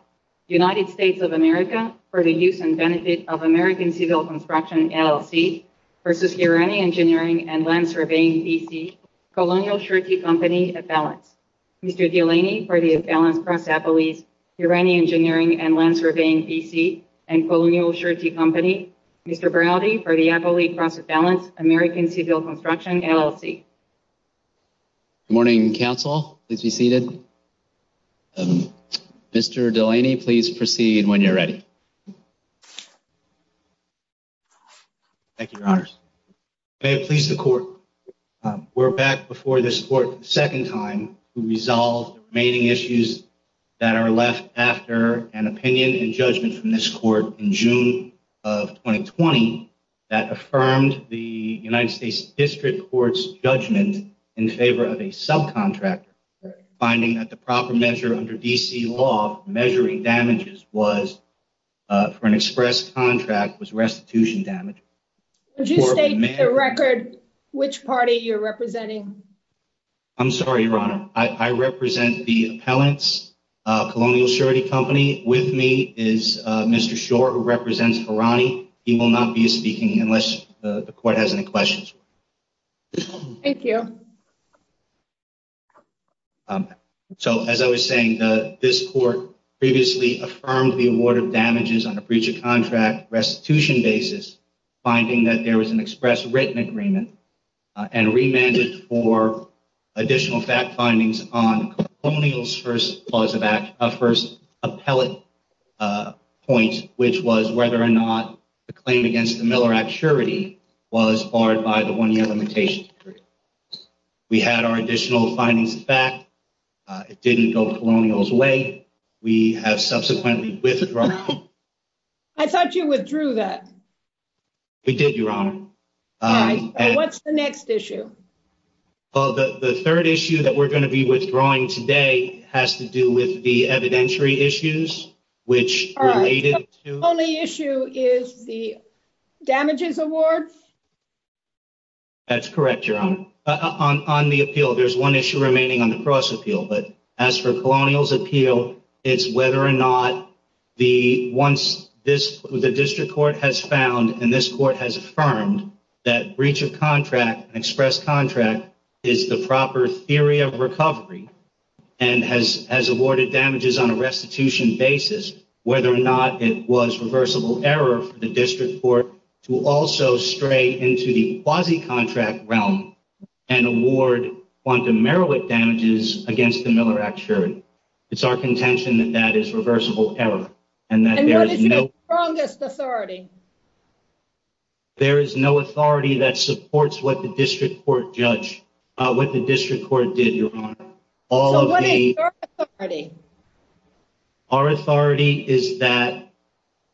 Surveying, B.C., Colonial Shirty Company, Appalachia, United States of America, for the use and benefit of American Civil Construction, LLC, v. Hirani Engineering & Land Surveying, B.C., Colonial Shirty Company, Appalachia, Mr. Delaney, for the Appalachia Cross Appalachia, Hirani Engineering & Land Surveying, B.C., and Colonial Shirty Company, Mr. Browdy, for the Appalachia Cross Appalachia, American Civil Construction, LLC. Good morning, Council. Please be seated. Mr. Delaney, please proceed when you're ready. Thank you, Your Honors. May it please the Court, we're back before this Court for the second time to resolve the remaining issues that are left after an opinion and judgment from this Court in June of 2020 that affirmed the United States District Court's judgment in favor of a subcontractor, finding that the proper measure under D.C. law measuring damages was for an express contract was restitution damage. Would you state the record which party you're representing? I'm sorry, Your Honor. I represent the appellants, Colonial Shirty Company. With me is Mr. Schor, who represents Hirani. He will not be speaking unless the Court has any questions. Thank you. So, as I was saying, this Court previously affirmed the award of damages on a breach of contract restitution basis, finding that there was an express written agreement and remanded for additional fact findings on Colonial's first appellate point, which was whether or not the claim against the Miller Act surety was barred by the one-year limitation. We had our additional findings back. It didn't go Colonial's way. We have subsequently withdrawn. I thought you withdrew that. We did, Your Honor. What's the next issue? The third issue that we're going to be withdrawing today has to do with the evidentiary issues, which related to the damages award. That's correct, Your Honor. On the appeal, there's one issue remaining on the cross appeal, but as for Colonial's appeal, it's whether or not once the District Court has found and this Court has affirmed that breach of contract and express contract is the proper theory of recovery and has awarded damages on a restitution basis, whether or not it was reversible error for the District Court to also stray into the quasi-contract realm and award quantum Merowick damages against the Miller Act surety. It's our contention that that is reversible error. And what is the strongest authority? There is no authority that supports what the District Court did, Your Honor. So what is your authority? Our authority is that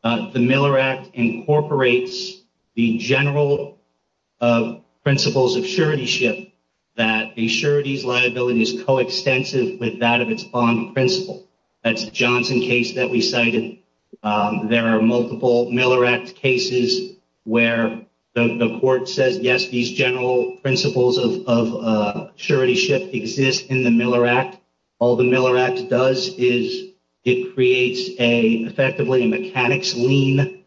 the Miller Act incorporates the general principles of suretyship, that the surety's liability is coextensive with that of its bond principle. That's a Johnson case that we cited. There are multiple Miller Act cases where the court says, yes, these general principles of suretyship exist in the Miller Act. All the Miller Act does is it creates effectively a mechanics lien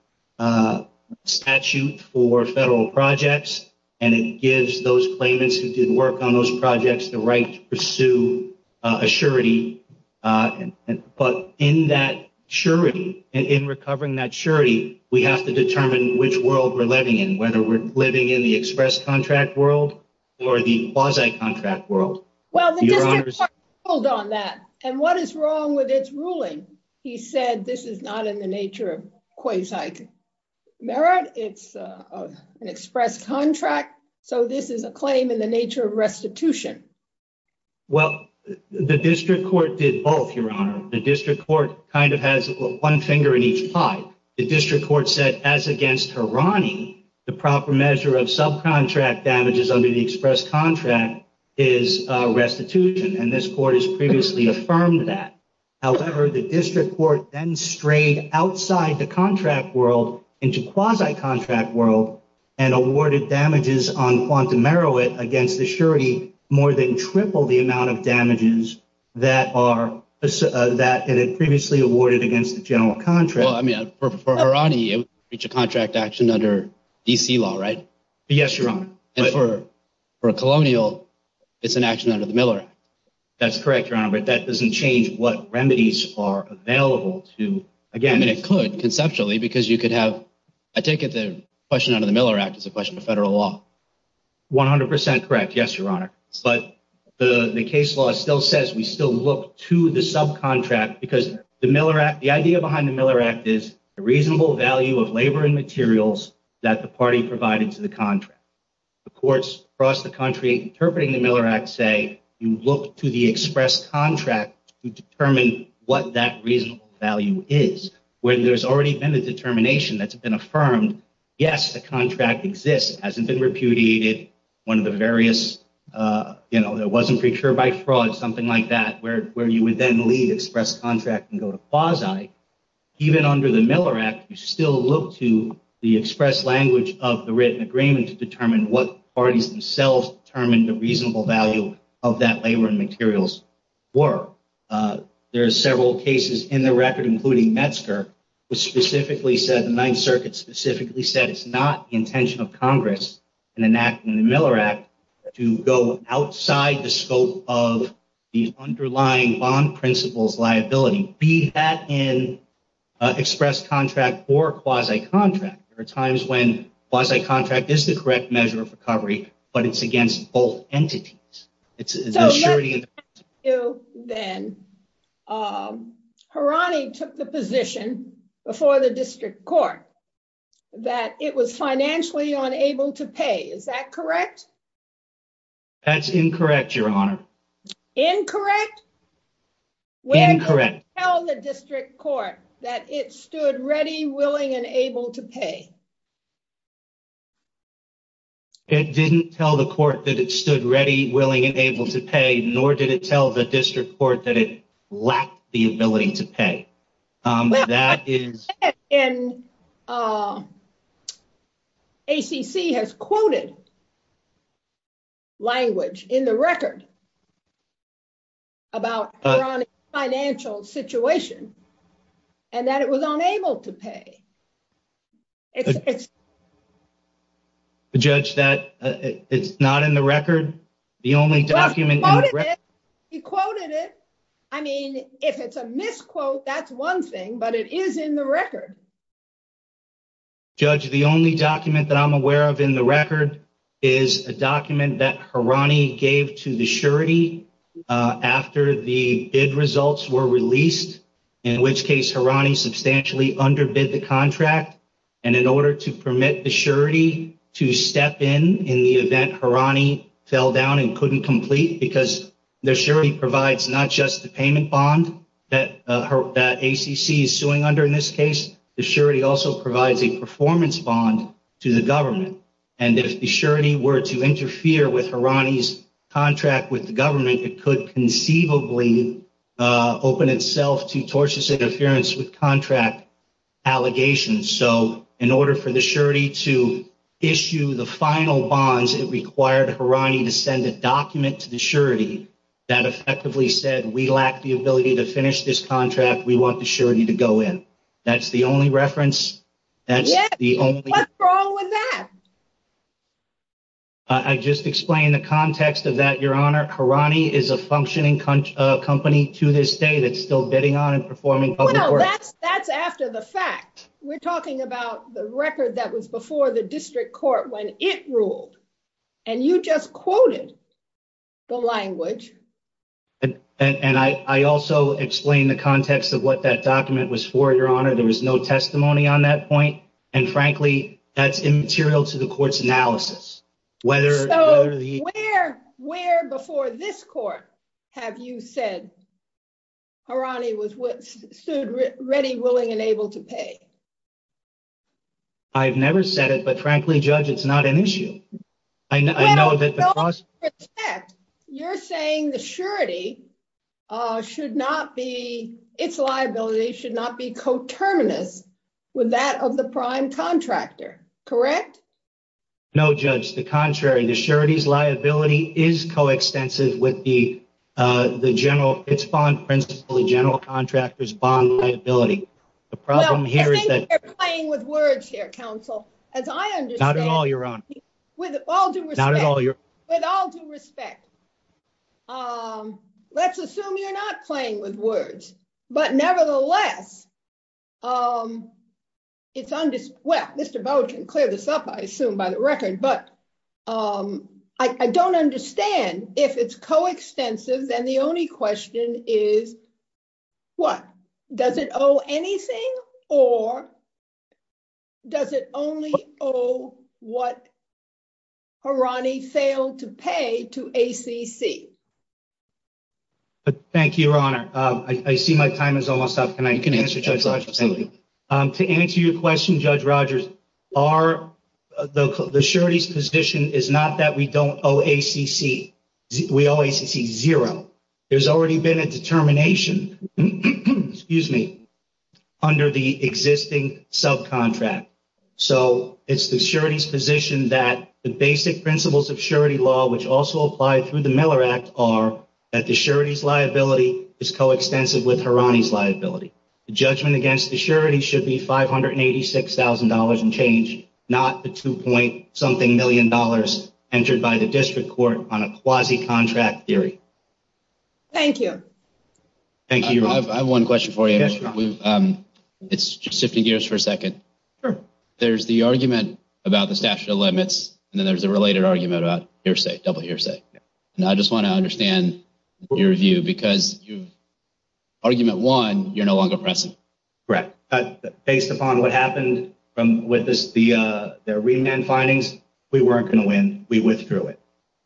statute for federal projects, and it gives those claimants who did work on those projects the right to pursue a surety. But in that surety, in recovering that surety, we have to determine which world we're living in, whether we're living in the express contract world or the quasi-contract world. Well, the District Court ruled on that. And what is wrong with its ruling? He said this is not in the nature of quasi-merit. It's an express contract. So this is a claim in the nature of restitution. Well, the District Court did both, Your Honor. The District Court kind of has one finger in each pie. The District Court said, as against Hirani, the proper measure of subcontract damages under the express contract is restitution. And this court has previously affirmed that. However, the District Court then strayed outside the contract world into quasi-contract world and awarded damages on quantum merit against the surety more than triple the amount of damages that it had previously awarded against the general contract. Well, I mean, for Hirani, it's a contract action under D.C. law, right? Yes, Your Honor. And for a colonial, it's an action under the Miller Act. That's correct, Your Honor. But that doesn't change what remedies are available to— Again, it could conceptually because you could have—I take it the question under the Miller Act is a question of federal law. 100 percent correct. Yes, Your Honor. But the case law still says we still look to the subcontract because the Miller Act—the idea behind the Miller Act is the reasonable value of labor and materials that the party provided to the contract. The courts across the country interpreting the Miller Act say you look to the express contract to determine what that reasonable value is. When there's already been a determination that's been affirmed, yes, the contract exists, hasn't been repudiated, one of the various—you know, it wasn't procured by fraud, something like that, where you would then leave express contract and go to quasi. Even under the Miller Act, you still look to the express language of the written agreement to determine what parties themselves determined the reasonable value of that labor and materials were. There are several cases in the record, including Metzger, which specifically said—the Ninth Circuit specifically said it's not the intention of Congress in enacting the Miller Act to go outside the scope of the underlying bond principles liability. Be that in express contract or quasi contract. There are times when quasi contract is the correct measure of recovery, but it's against both entities. So let me ask you then. Harani took the position before the district court that it was financially unable to pay. Is that correct? That's incorrect, Your Honor. Incorrect? Incorrect. When did it tell the district court that it stood ready, willing, and able to pay? It didn't tell the court that it stood ready, willing, and able to pay, nor did it tell the district court that it lacked the ability to pay. ACC has quoted language in the record about Harani's financial situation and that it was unable to pay. Judge, it's not in the record? He quoted it. I mean, if it's a misquote, that's one thing, but it is in the record. Judge, the only document that I'm aware of in the record is a document that Harani gave to the surety after the bid results were released, in which case Harani substantially underbid the contract. And in order to permit the surety to step in in the event Harani fell down and couldn't complete, because the surety provides not just the payment bond that ACC is suing under in this case, the surety also provides a performance bond to the government. And if the surety were to interfere with Harani's contract with the government, it could conceivably open itself to tortious interference with contract allegations. So, in order for the surety to issue the final bonds, it required Harani to send a document to the surety that effectively said, we lack the ability to finish this contract, we want the surety to go in. That's the only reference. What's wrong with that? I just explained the context of that, Your Honor. Harani is a functioning company to this day that's still bidding on and performing public works. That's after the fact. We're talking about the record that was before the district court when it ruled. And you just quoted the language. And I also explained the context of what that document was for, Your Honor. There was no testimony on that point. So, where before this court have you said Harani stood ready, willing, and able to pay? I've never said it, but frankly, Judge, it's not an issue. You're saying the surety should not be, its liability should not be coterminous with that of the prime contractor, correct? No, Judge, the contrary. The surety's liability is coextensive with the general principal, the general contractor's bond liability. I think you're playing with words here, counsel. Not at all, Your Honor. With all due respect, let's assume you're not playing with words. But nevertheless, well, Mr. Bowen can clear this up, I assume, by the record. But I don't understand. If it's coextensive, then the only question is what? Does it owe anything? Or does it only owe what Harani failed to pay to ACC? Thank you, Your Honor. I see my time is almost up. You can answer, Judge Rogers. To answer your question, Judge Rogers, the surety's position is not that we don't owe ACC. We owe ACC zero. There's already been a determination under the existing subcontract. So it's the surety's position that the basic principles of surety law, which also apply through the Miller Act, are that the surety's liability is coextensive with Harani's liability. The judgment against the surety should be $586,000 and change, not the $2.something million entered by the district court on a quasi-contract theory. Thank you. Thank you, Your Honor. I have one question for you. It's just shifting gears for a second. Sure. There's the argument about the statute of limits, and then there's a related argument about hearsay, double hearsay. And I just want to understand your view, because argument one, you're no longer present. Correct. Based upon what happened with the remand findings, we weren't going to win. We withdrew it.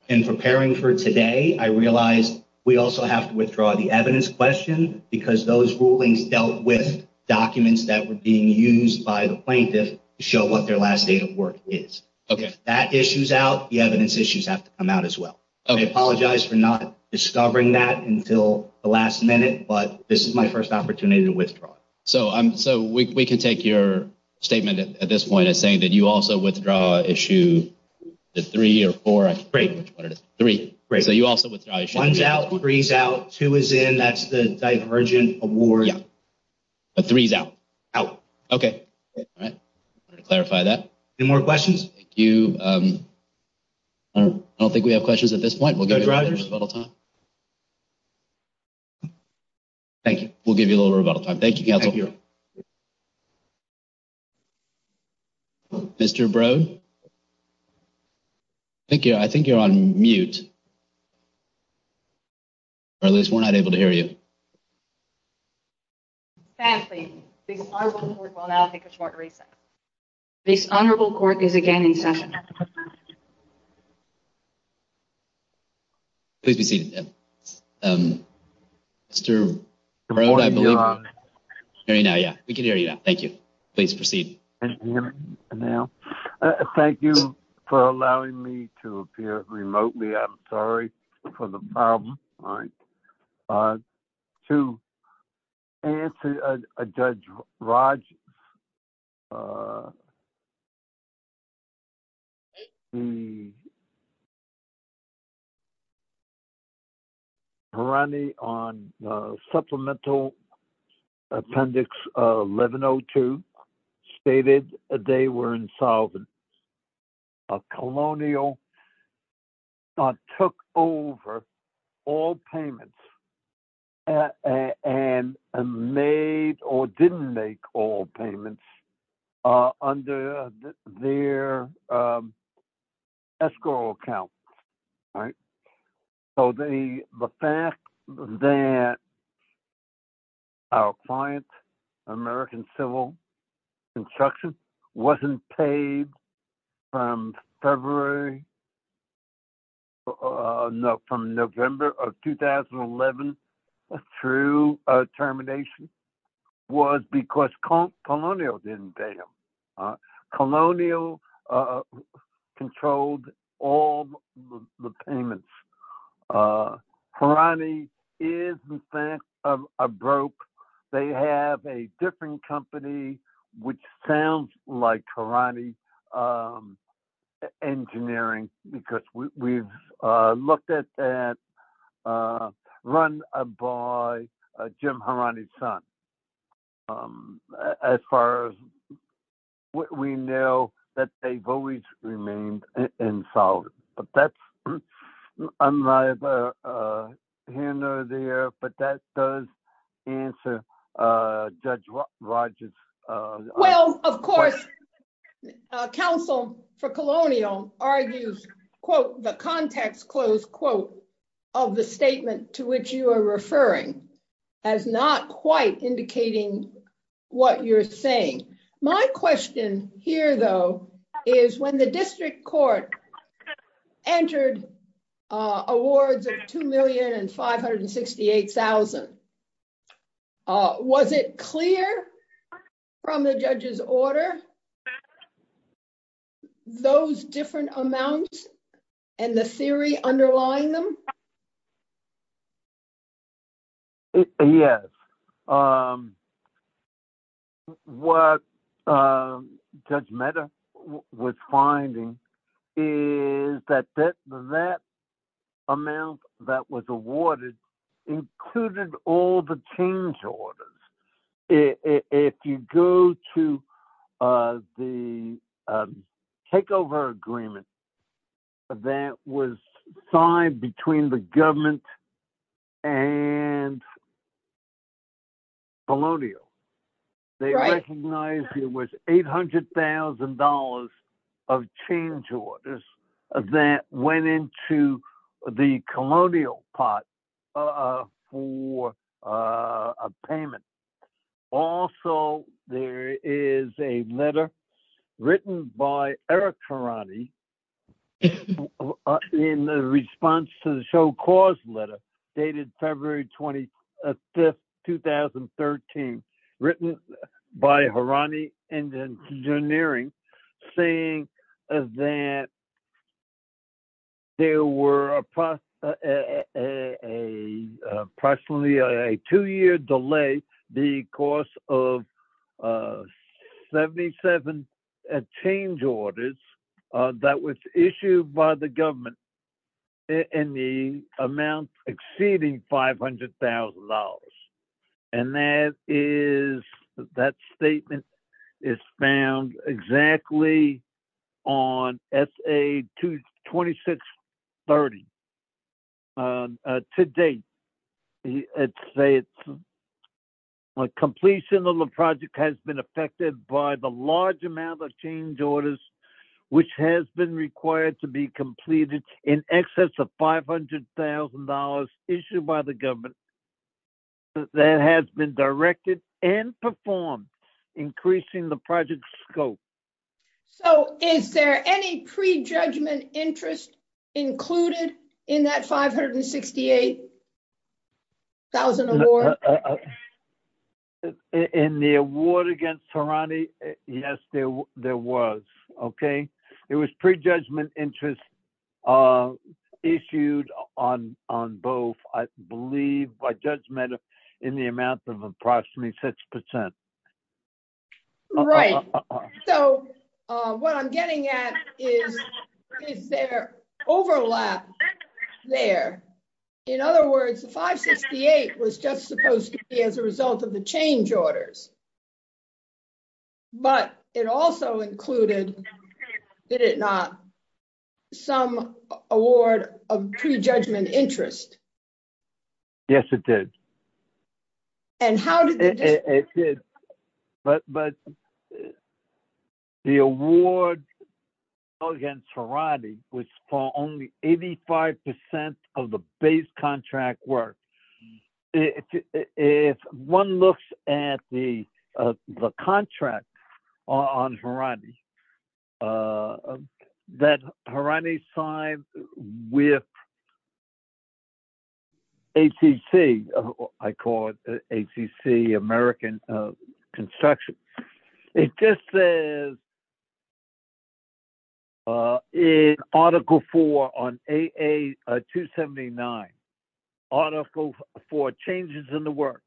In preparing for today, I realized we also have to withdraw the evidence question, because those rulings dealt with documents that were being used by the plaintiff to show what their last date of work is. If that issue's out, the evidence issues have to come out as well. I apologize for not discovering that until the last minute, but this is my first opportunity to withdraw it. So we can take your statement at this point as saying that you also withdraw issue three or four. Great. Three. Great. So you also withdraw issue three. One's out, three's out, two is in. That's the divergent award. Yeah. But three's out? Out. Okay. All right. I wanted to clarify that. Any more questions? Thank you. I don't think we have questions at this point. We'll give you a little rebuttal time. Thank you. Thank you. Mr. Brode? I think you're on mute. Or at least we're not able to hear you. This honorable court will now take a short recess. This honorable court is again in session. Please be seated. Mr. Brode? We can hear you now. Thank you. Please proceed. Thank you for allowing me to appear remotely. I'm sorry for the problem. To answer a judge, Raj, the pirani on supplemental appendix 1102 stated they were insolvent. A colonial took over all payments and made or didn't make all payments under their escrow account. All right. So the fact that our client, American Civil Construction, wasn't paid from February, no, from November of 2011 through termination was because colonial didn't pay them. Colonial controlled all the payments. Pirani is, in fact, a broke. They have a different company, which sounds like Pirani Engineering, because we've looked at that, run by Jim Pirani's son. As far as what we know, that they've always remained insolvent. But that's, I'm not a handler there, but that does answer Judge Raj's question. Council for Colonial argues, quote, the context close quote of the statement to which you are referring as not quite indicating what you're saying. My question here, though, is when the district court entered awards of 2,000,568,000. Was it clear from the judge's order? Those different amounts and the theory underlying them. Yes. What Judge Mehta was finding is that that amount that was awarded included all the change orders. If you go to the takeover agreement that was signed between the government and Colonial, they recognized it was $800,000 of change orders that went into the Colonial pot for a payment. Also, there is a letter written by Eric Pirani in response to the show cause letter dated February 25th, 2013, written by Pirani Engineering, saying that there were approximately a two year delay because of 77 change orders that was issued by the government in the amount exceeding $500,000. And that statement is found exactly on S.A. 2630. To date, completion of the project has been affected by the large amount of change orders, which has been required to be completed in excess of $500,000 issued by the government that has been directed and performed, increasing the project scope. So, is there any prejudgment interest included in that 568,000 award? In the award against Pirani, yes, there was. It was prejudgment interest issued on both, I believe by Judge Mehta, in the amount of approximately 6%. Right. So, what I'm getting at is there overlap there. In other words, the 568 was just supposed to be as a result of the change orders. But it also included, did it not, some award of prejudgment interest. Yes, it did. And how did it? But the award against Pirani was for only 85% of the base contract work. If one looks at the contract on Pirani, that Pirani signed with ACC, I call it ACC, American Construction. It just says in Article 4 on AA-279, Article 4, Changes in the Work,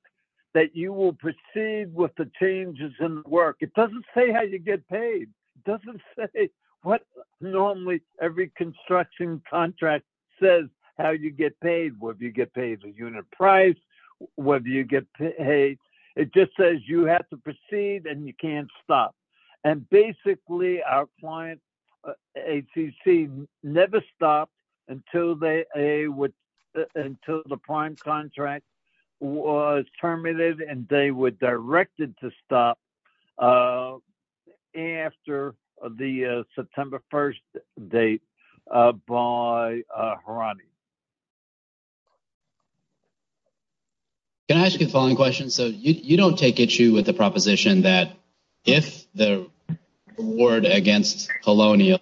that you will proceed with the changes in the work. It doesn't say how you get paid. It doesn't say what normally every construction contract says how you get paid, whether you get paid a unit price, whether you get paid. It just says you have to proceed and you can't stop. And basically, our client, ACC, never stopped until the prime contract was terminated and they were directed to stop after the September 1st date by Pirani. Thank you. Can I ask you the following question? So, you don't take issue with the proposition that if the award against Colonial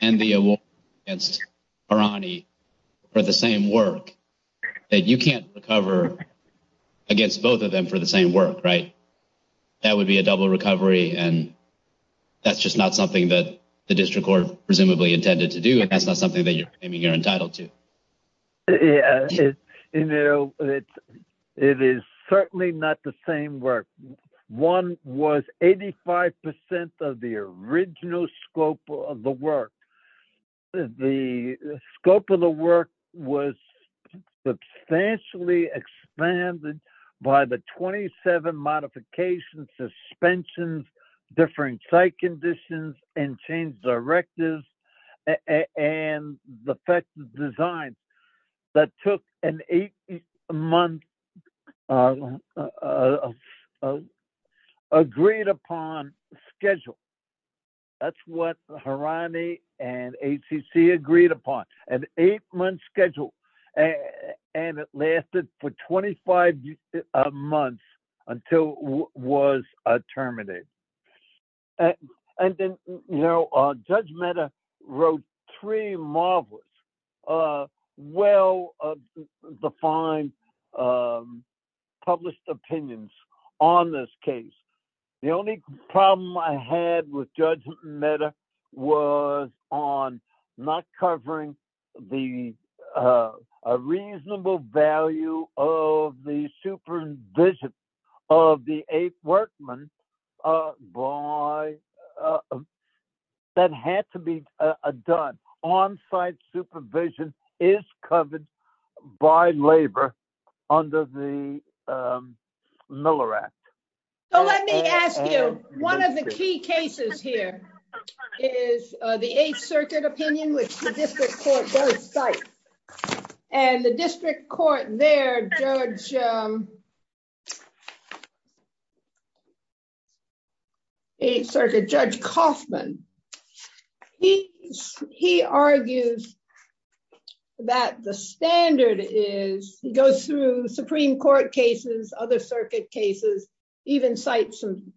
and the award against Pirani were the same work, that you can't recover against both of them for the same work, right? That would be a double recovery and that's just not something that the district court presumably intended to do and that's not something that you're entitled to. Yeah, it is certainly not the same work. One was 85% of the original scope of the work. The scope of the work was substantially expanded by the 27 modifications, suspensions, differing site conditions, and change directives, and the effective design that took an eight-month agreed-upon schedule. That's what Pirani and ACC agreed upon, an eight-month schedule, and it lasted for 25 months until it was terminated. And then, you know, Judge Mehta wrote three marvelous, well-defined, published opinions on this case. The only problem I had with Judge Mehta was on not covering the reasonable value of the supervision of the eight workmen that had to be done. On-site supervision is covered by labor under the Miller Act. Let me ask you, one of the key cases here is the Eighth Circuit opinion, which the district court does cite. And the district court there, Eighth Circuit Judge Coffman, he argues that the standard is, he goes through Supreme Court cases, other circuit cases, even cites some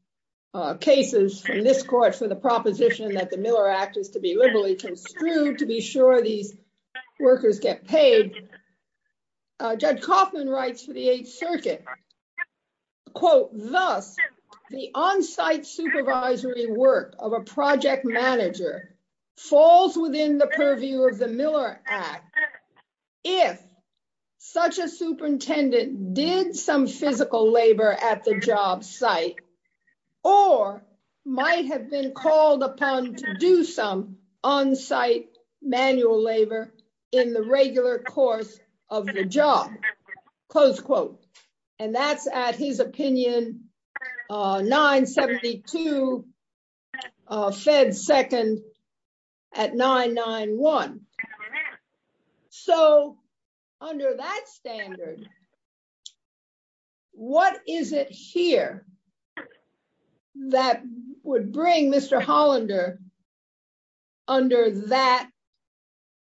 cases from this court for the proposition that the Miller Act is to be liberally construed to be sure these workers get paid. Judge Coffman writes for the Eighth Circuit, quote, Thus, the on-site supervisory work of a project manager falls within the purview of the Miller Act if such a superintendent did some physical labor at the job site or might have been called upon to do some on-site manual labor in the regular course of the job. Close quote. And that's at, his opinion, 972 Fed Second at 991. So, under that standard, what is it here that would bring Mr. Hollander under that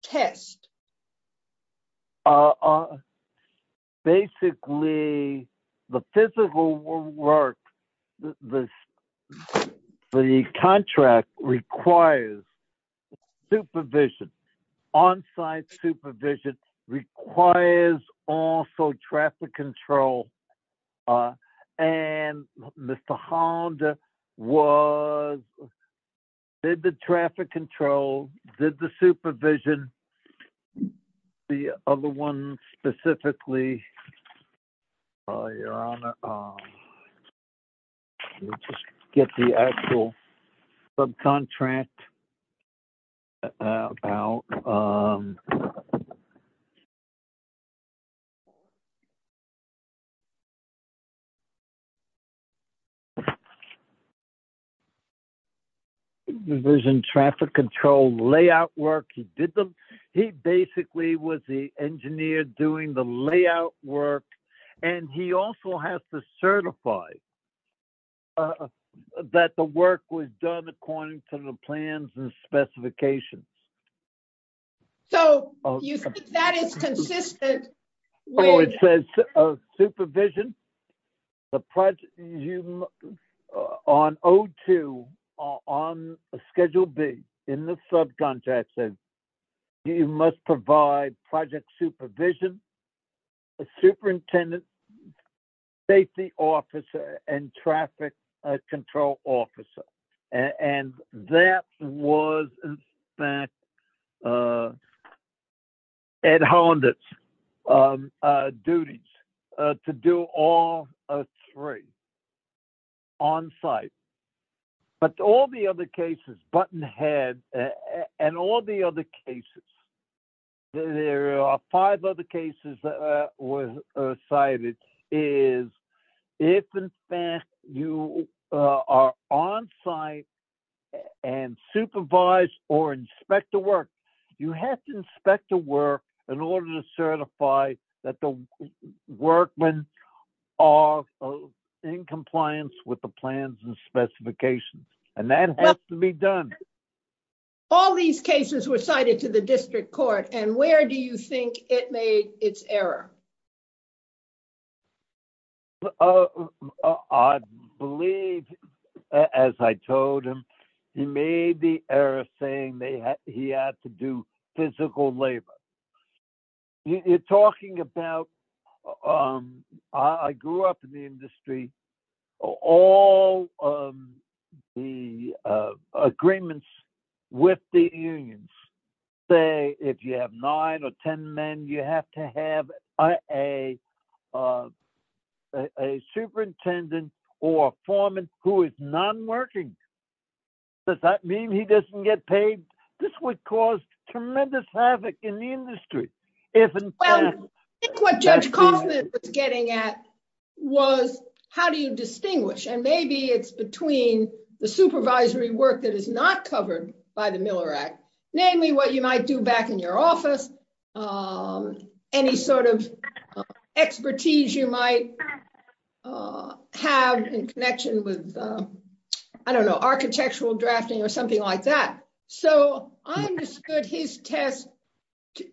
test? Basically, the physical work, the contract requires supervision. On-site supervision requires also traffic control. And Mr. Hollander was, did the traffic control, did the supervision, the other one specifically. Your Honor, let me just get the actual subcontract out. Division traffic control layout work, he did the, he basically was the engineer doing the layout work, and he also has to certify that the work was done according to the plans and specifications. So, you think that is consistent? Oh, it says supervision. On O2, on Schedule B in the subcontract says you must provide project supervision, a superintendent, safety officer, and traffic control officer. And that was, in fact, Ed Hollander's duties to do all three on-site. But all the other cases, Buttonhead, and all the other cases, there are five other cases that were cited, is if, in fact, you are on-site and supervise or inspect the work, you have to inspect the work in order to certify that the workmen are in compliance with the plans and specifications. And that has to be done. All these cases were cited to the district court, and where do you think it made its error? I believe, as I told him, he made the error saying he had to do physical labor. You're talking about, I grew up in the industry, all the agreements with the unions say if you have nine or ten men, you have to have a superintendent or foreman who is non-working. Does that mean he doesn't get paid? This would cause tremendous havoc in the industry. I think what Judge Kaufman was getting at was how do you distinguish, and maybe it's between the supervisory work that is not covered by the Miller Act, namely what you might do back in your office, any sort of expertise you might have in connection with, I don't know, architectural drafting or something like that. So I understood his test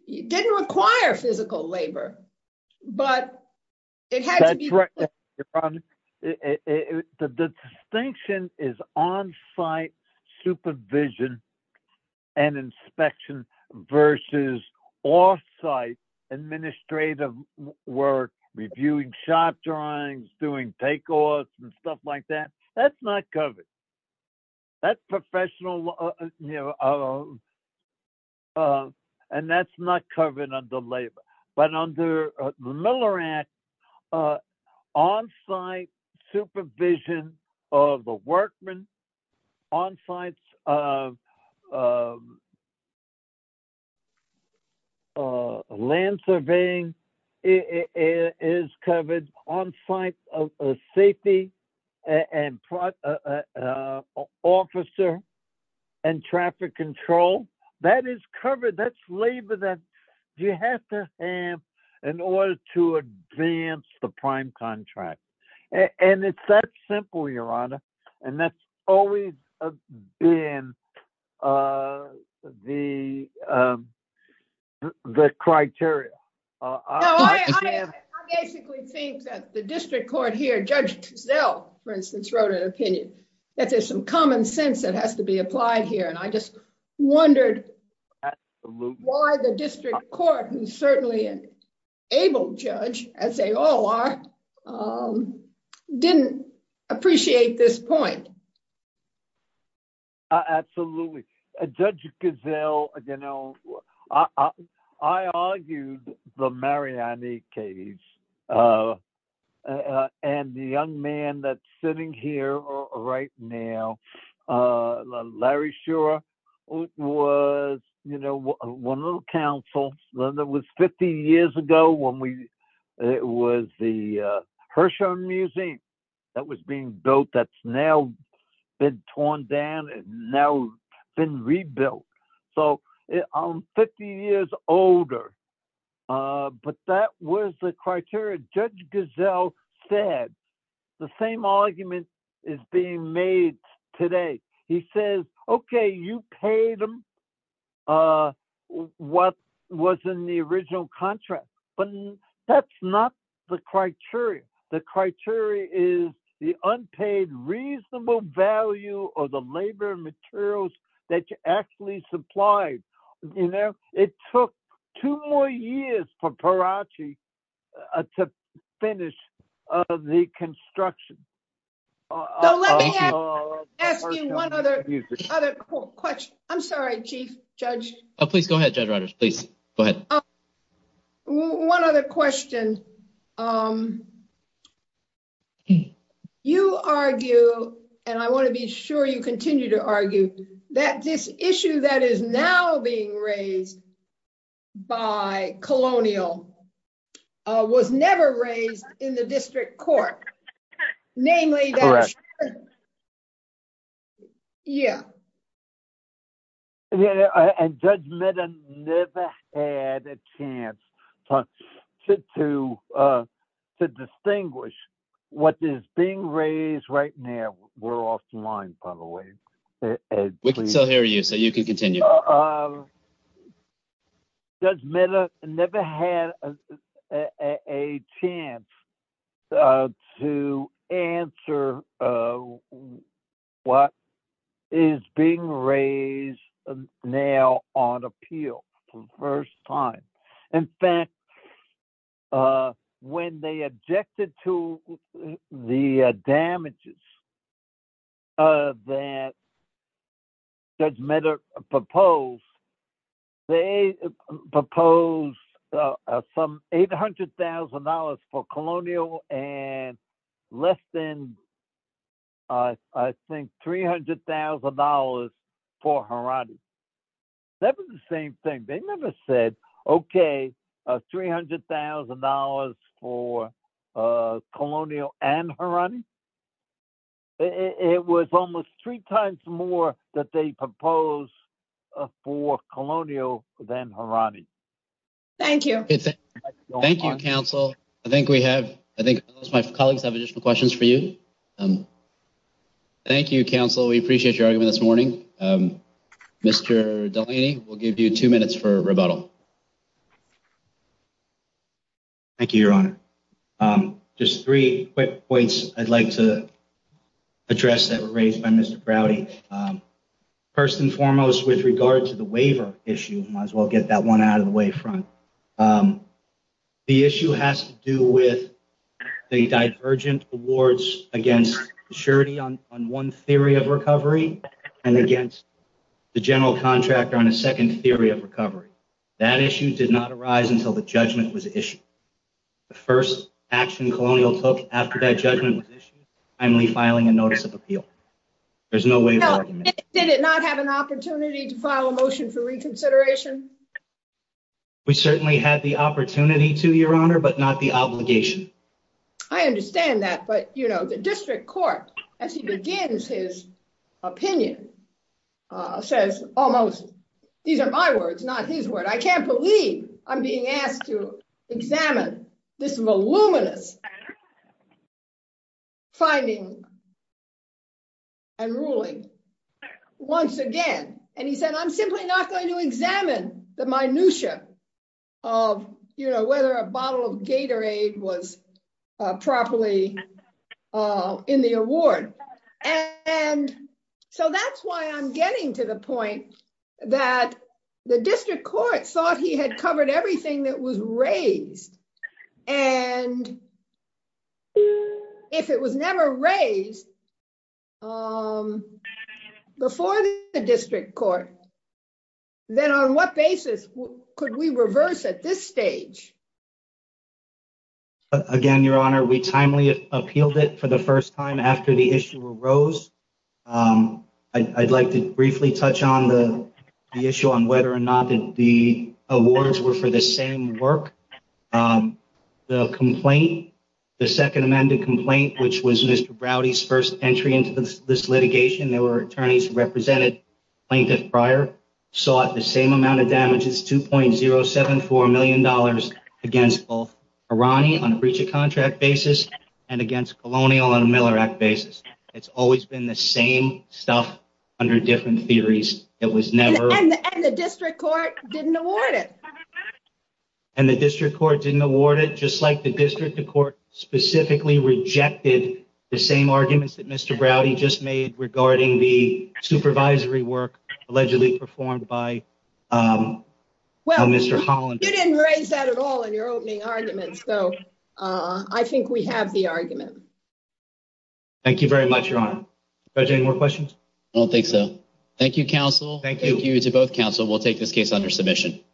didn't require physical labor, but it had to be. The distinction is on-site supervision and inspection versus off-site administrative work, reviewing shop drawings, doing takeoffs and stuff like that. That's not covered. And that's not covered under labor. But under the Miller Act, on-site supervision of the workmen, on-site land surveying is covered, on-site safety and officer and traffic control, that is covered. That's labor that you have to have in order to advance the prime contract. And it's that simple, Your Honor. And that's always been the criteria. I basically think that the district court here, Judge Giselle, for instance, wrote an opinion, that there's some common sense that has to be applied here. And I just wondered why the district court, who certainly enabled Judge, as they all are, didn't appreciate this point. Absolutely. Judge Giselle, you know, I argued the Mariani case, and the young man that's sitting here right now, Larry Scherer, was, you know, one of the counsels. It was 50 years ago when it was the Hirshhorn Museum that was being built that's now been torn down and now been rebuilt. So I'm 50 years older. But that was the criteria Judge Giselle said. The same argument is being made today. He says, okay, you paid him what was in the original contract. But that's not the criteria. The criteria is the unpaid reasonable value of the labor materials that you actually supplied. You know, it took two more years for Perachi to finish the construction. So let me ask you one other question. I'm sorry, Chief Judge. Please go ahead, Judge Rodgers. Please go ahead. One other question. And, um, you argue, and I want to be sure you continue to argue that this issue that is now being raised by colonial was never raised in the district court. Namely, yeah. And Judge Mehta never had a chance to distinguish what is being raised right now. We're off the line, by the way. We can still hear you so you can continue. Judge Mehta never had a chance to answer what is being raised now on appeal for the first time. In fact, when they objected to the damages that Judge Mehta proposed, they proposed some $800,000 for colonial and less than, I think, $300,000 for Harare. That was the same thing. They never said, okay, $300,000 for colonial and Harare. It was almost three times more that they proposed for colonial than Harare. Thank you. Thank you, Counsel. I think we have, I think my colleagues have additional questions for you. Thank you, Counsel. We appreciate your argument this morning. Mr. Delaney, we'll give you two minutes for rebuttal. Thank you, Your Honor. Just three quick points I'd like to address that were raised by Mr. Browdy. First and foremost, with regard to the waiver issue, might as well get that one out of the way front. The issue has to do with the divergent awards against surety on one theory of recovery and against the general contractor on a second theory of recovery. That issue did not arise until the judgment was issued. The first action colonial took after that judgment was issued was finally filing a notice of appeal. There's no way of arguing that. Did it not have an opportunity to file a motion for reconsideration? We certainly had the opportunity to, Your Honor, but not the obligation. I understand that. But, you know, the district court, as he begins his opinion, says almost, these are my words, not his word. I can't believe I'm being asked to examine this voluminous finding and ruling once again. And he said, I'm simply not going to examine the minutia of, you know, whether a bottle of Gatorade was properly in the award. And so that's why I'm getting to the point that the district court thought he had covered everything that was raised. And if it was never raised before the district court, then on what basis could we reverse at this stage? Again, Your Honor, we timely appealed it for the first time after the issue arose. I'd like to briefly touch on the issue on whether or not the awards were for the same work. The complaint, the second amended complaint, which was Mr. Browdy's first entry into this litigation, there were attorneys who represented plaintiff prior, sought the same amount of damages, $2.074 million, against both Irani on a breach of contract basis and against Colonial on a Miller Act basis. It's always been the same stuff under different theories. It was never. And the district court didn't award it. And the district court didn't award it, just like the district court specifically rejected the same arguments that Mr. Browdy just made regarding the supervisory work allegedly performed by Mr. Holland. You didn't raise that at all in your opening argument. So I think we have the argument. Thank you very much, Your Honor. Any more questions? I don't think so. Thank you, counsel. Thank you to both counsel. We'll take this case under submission.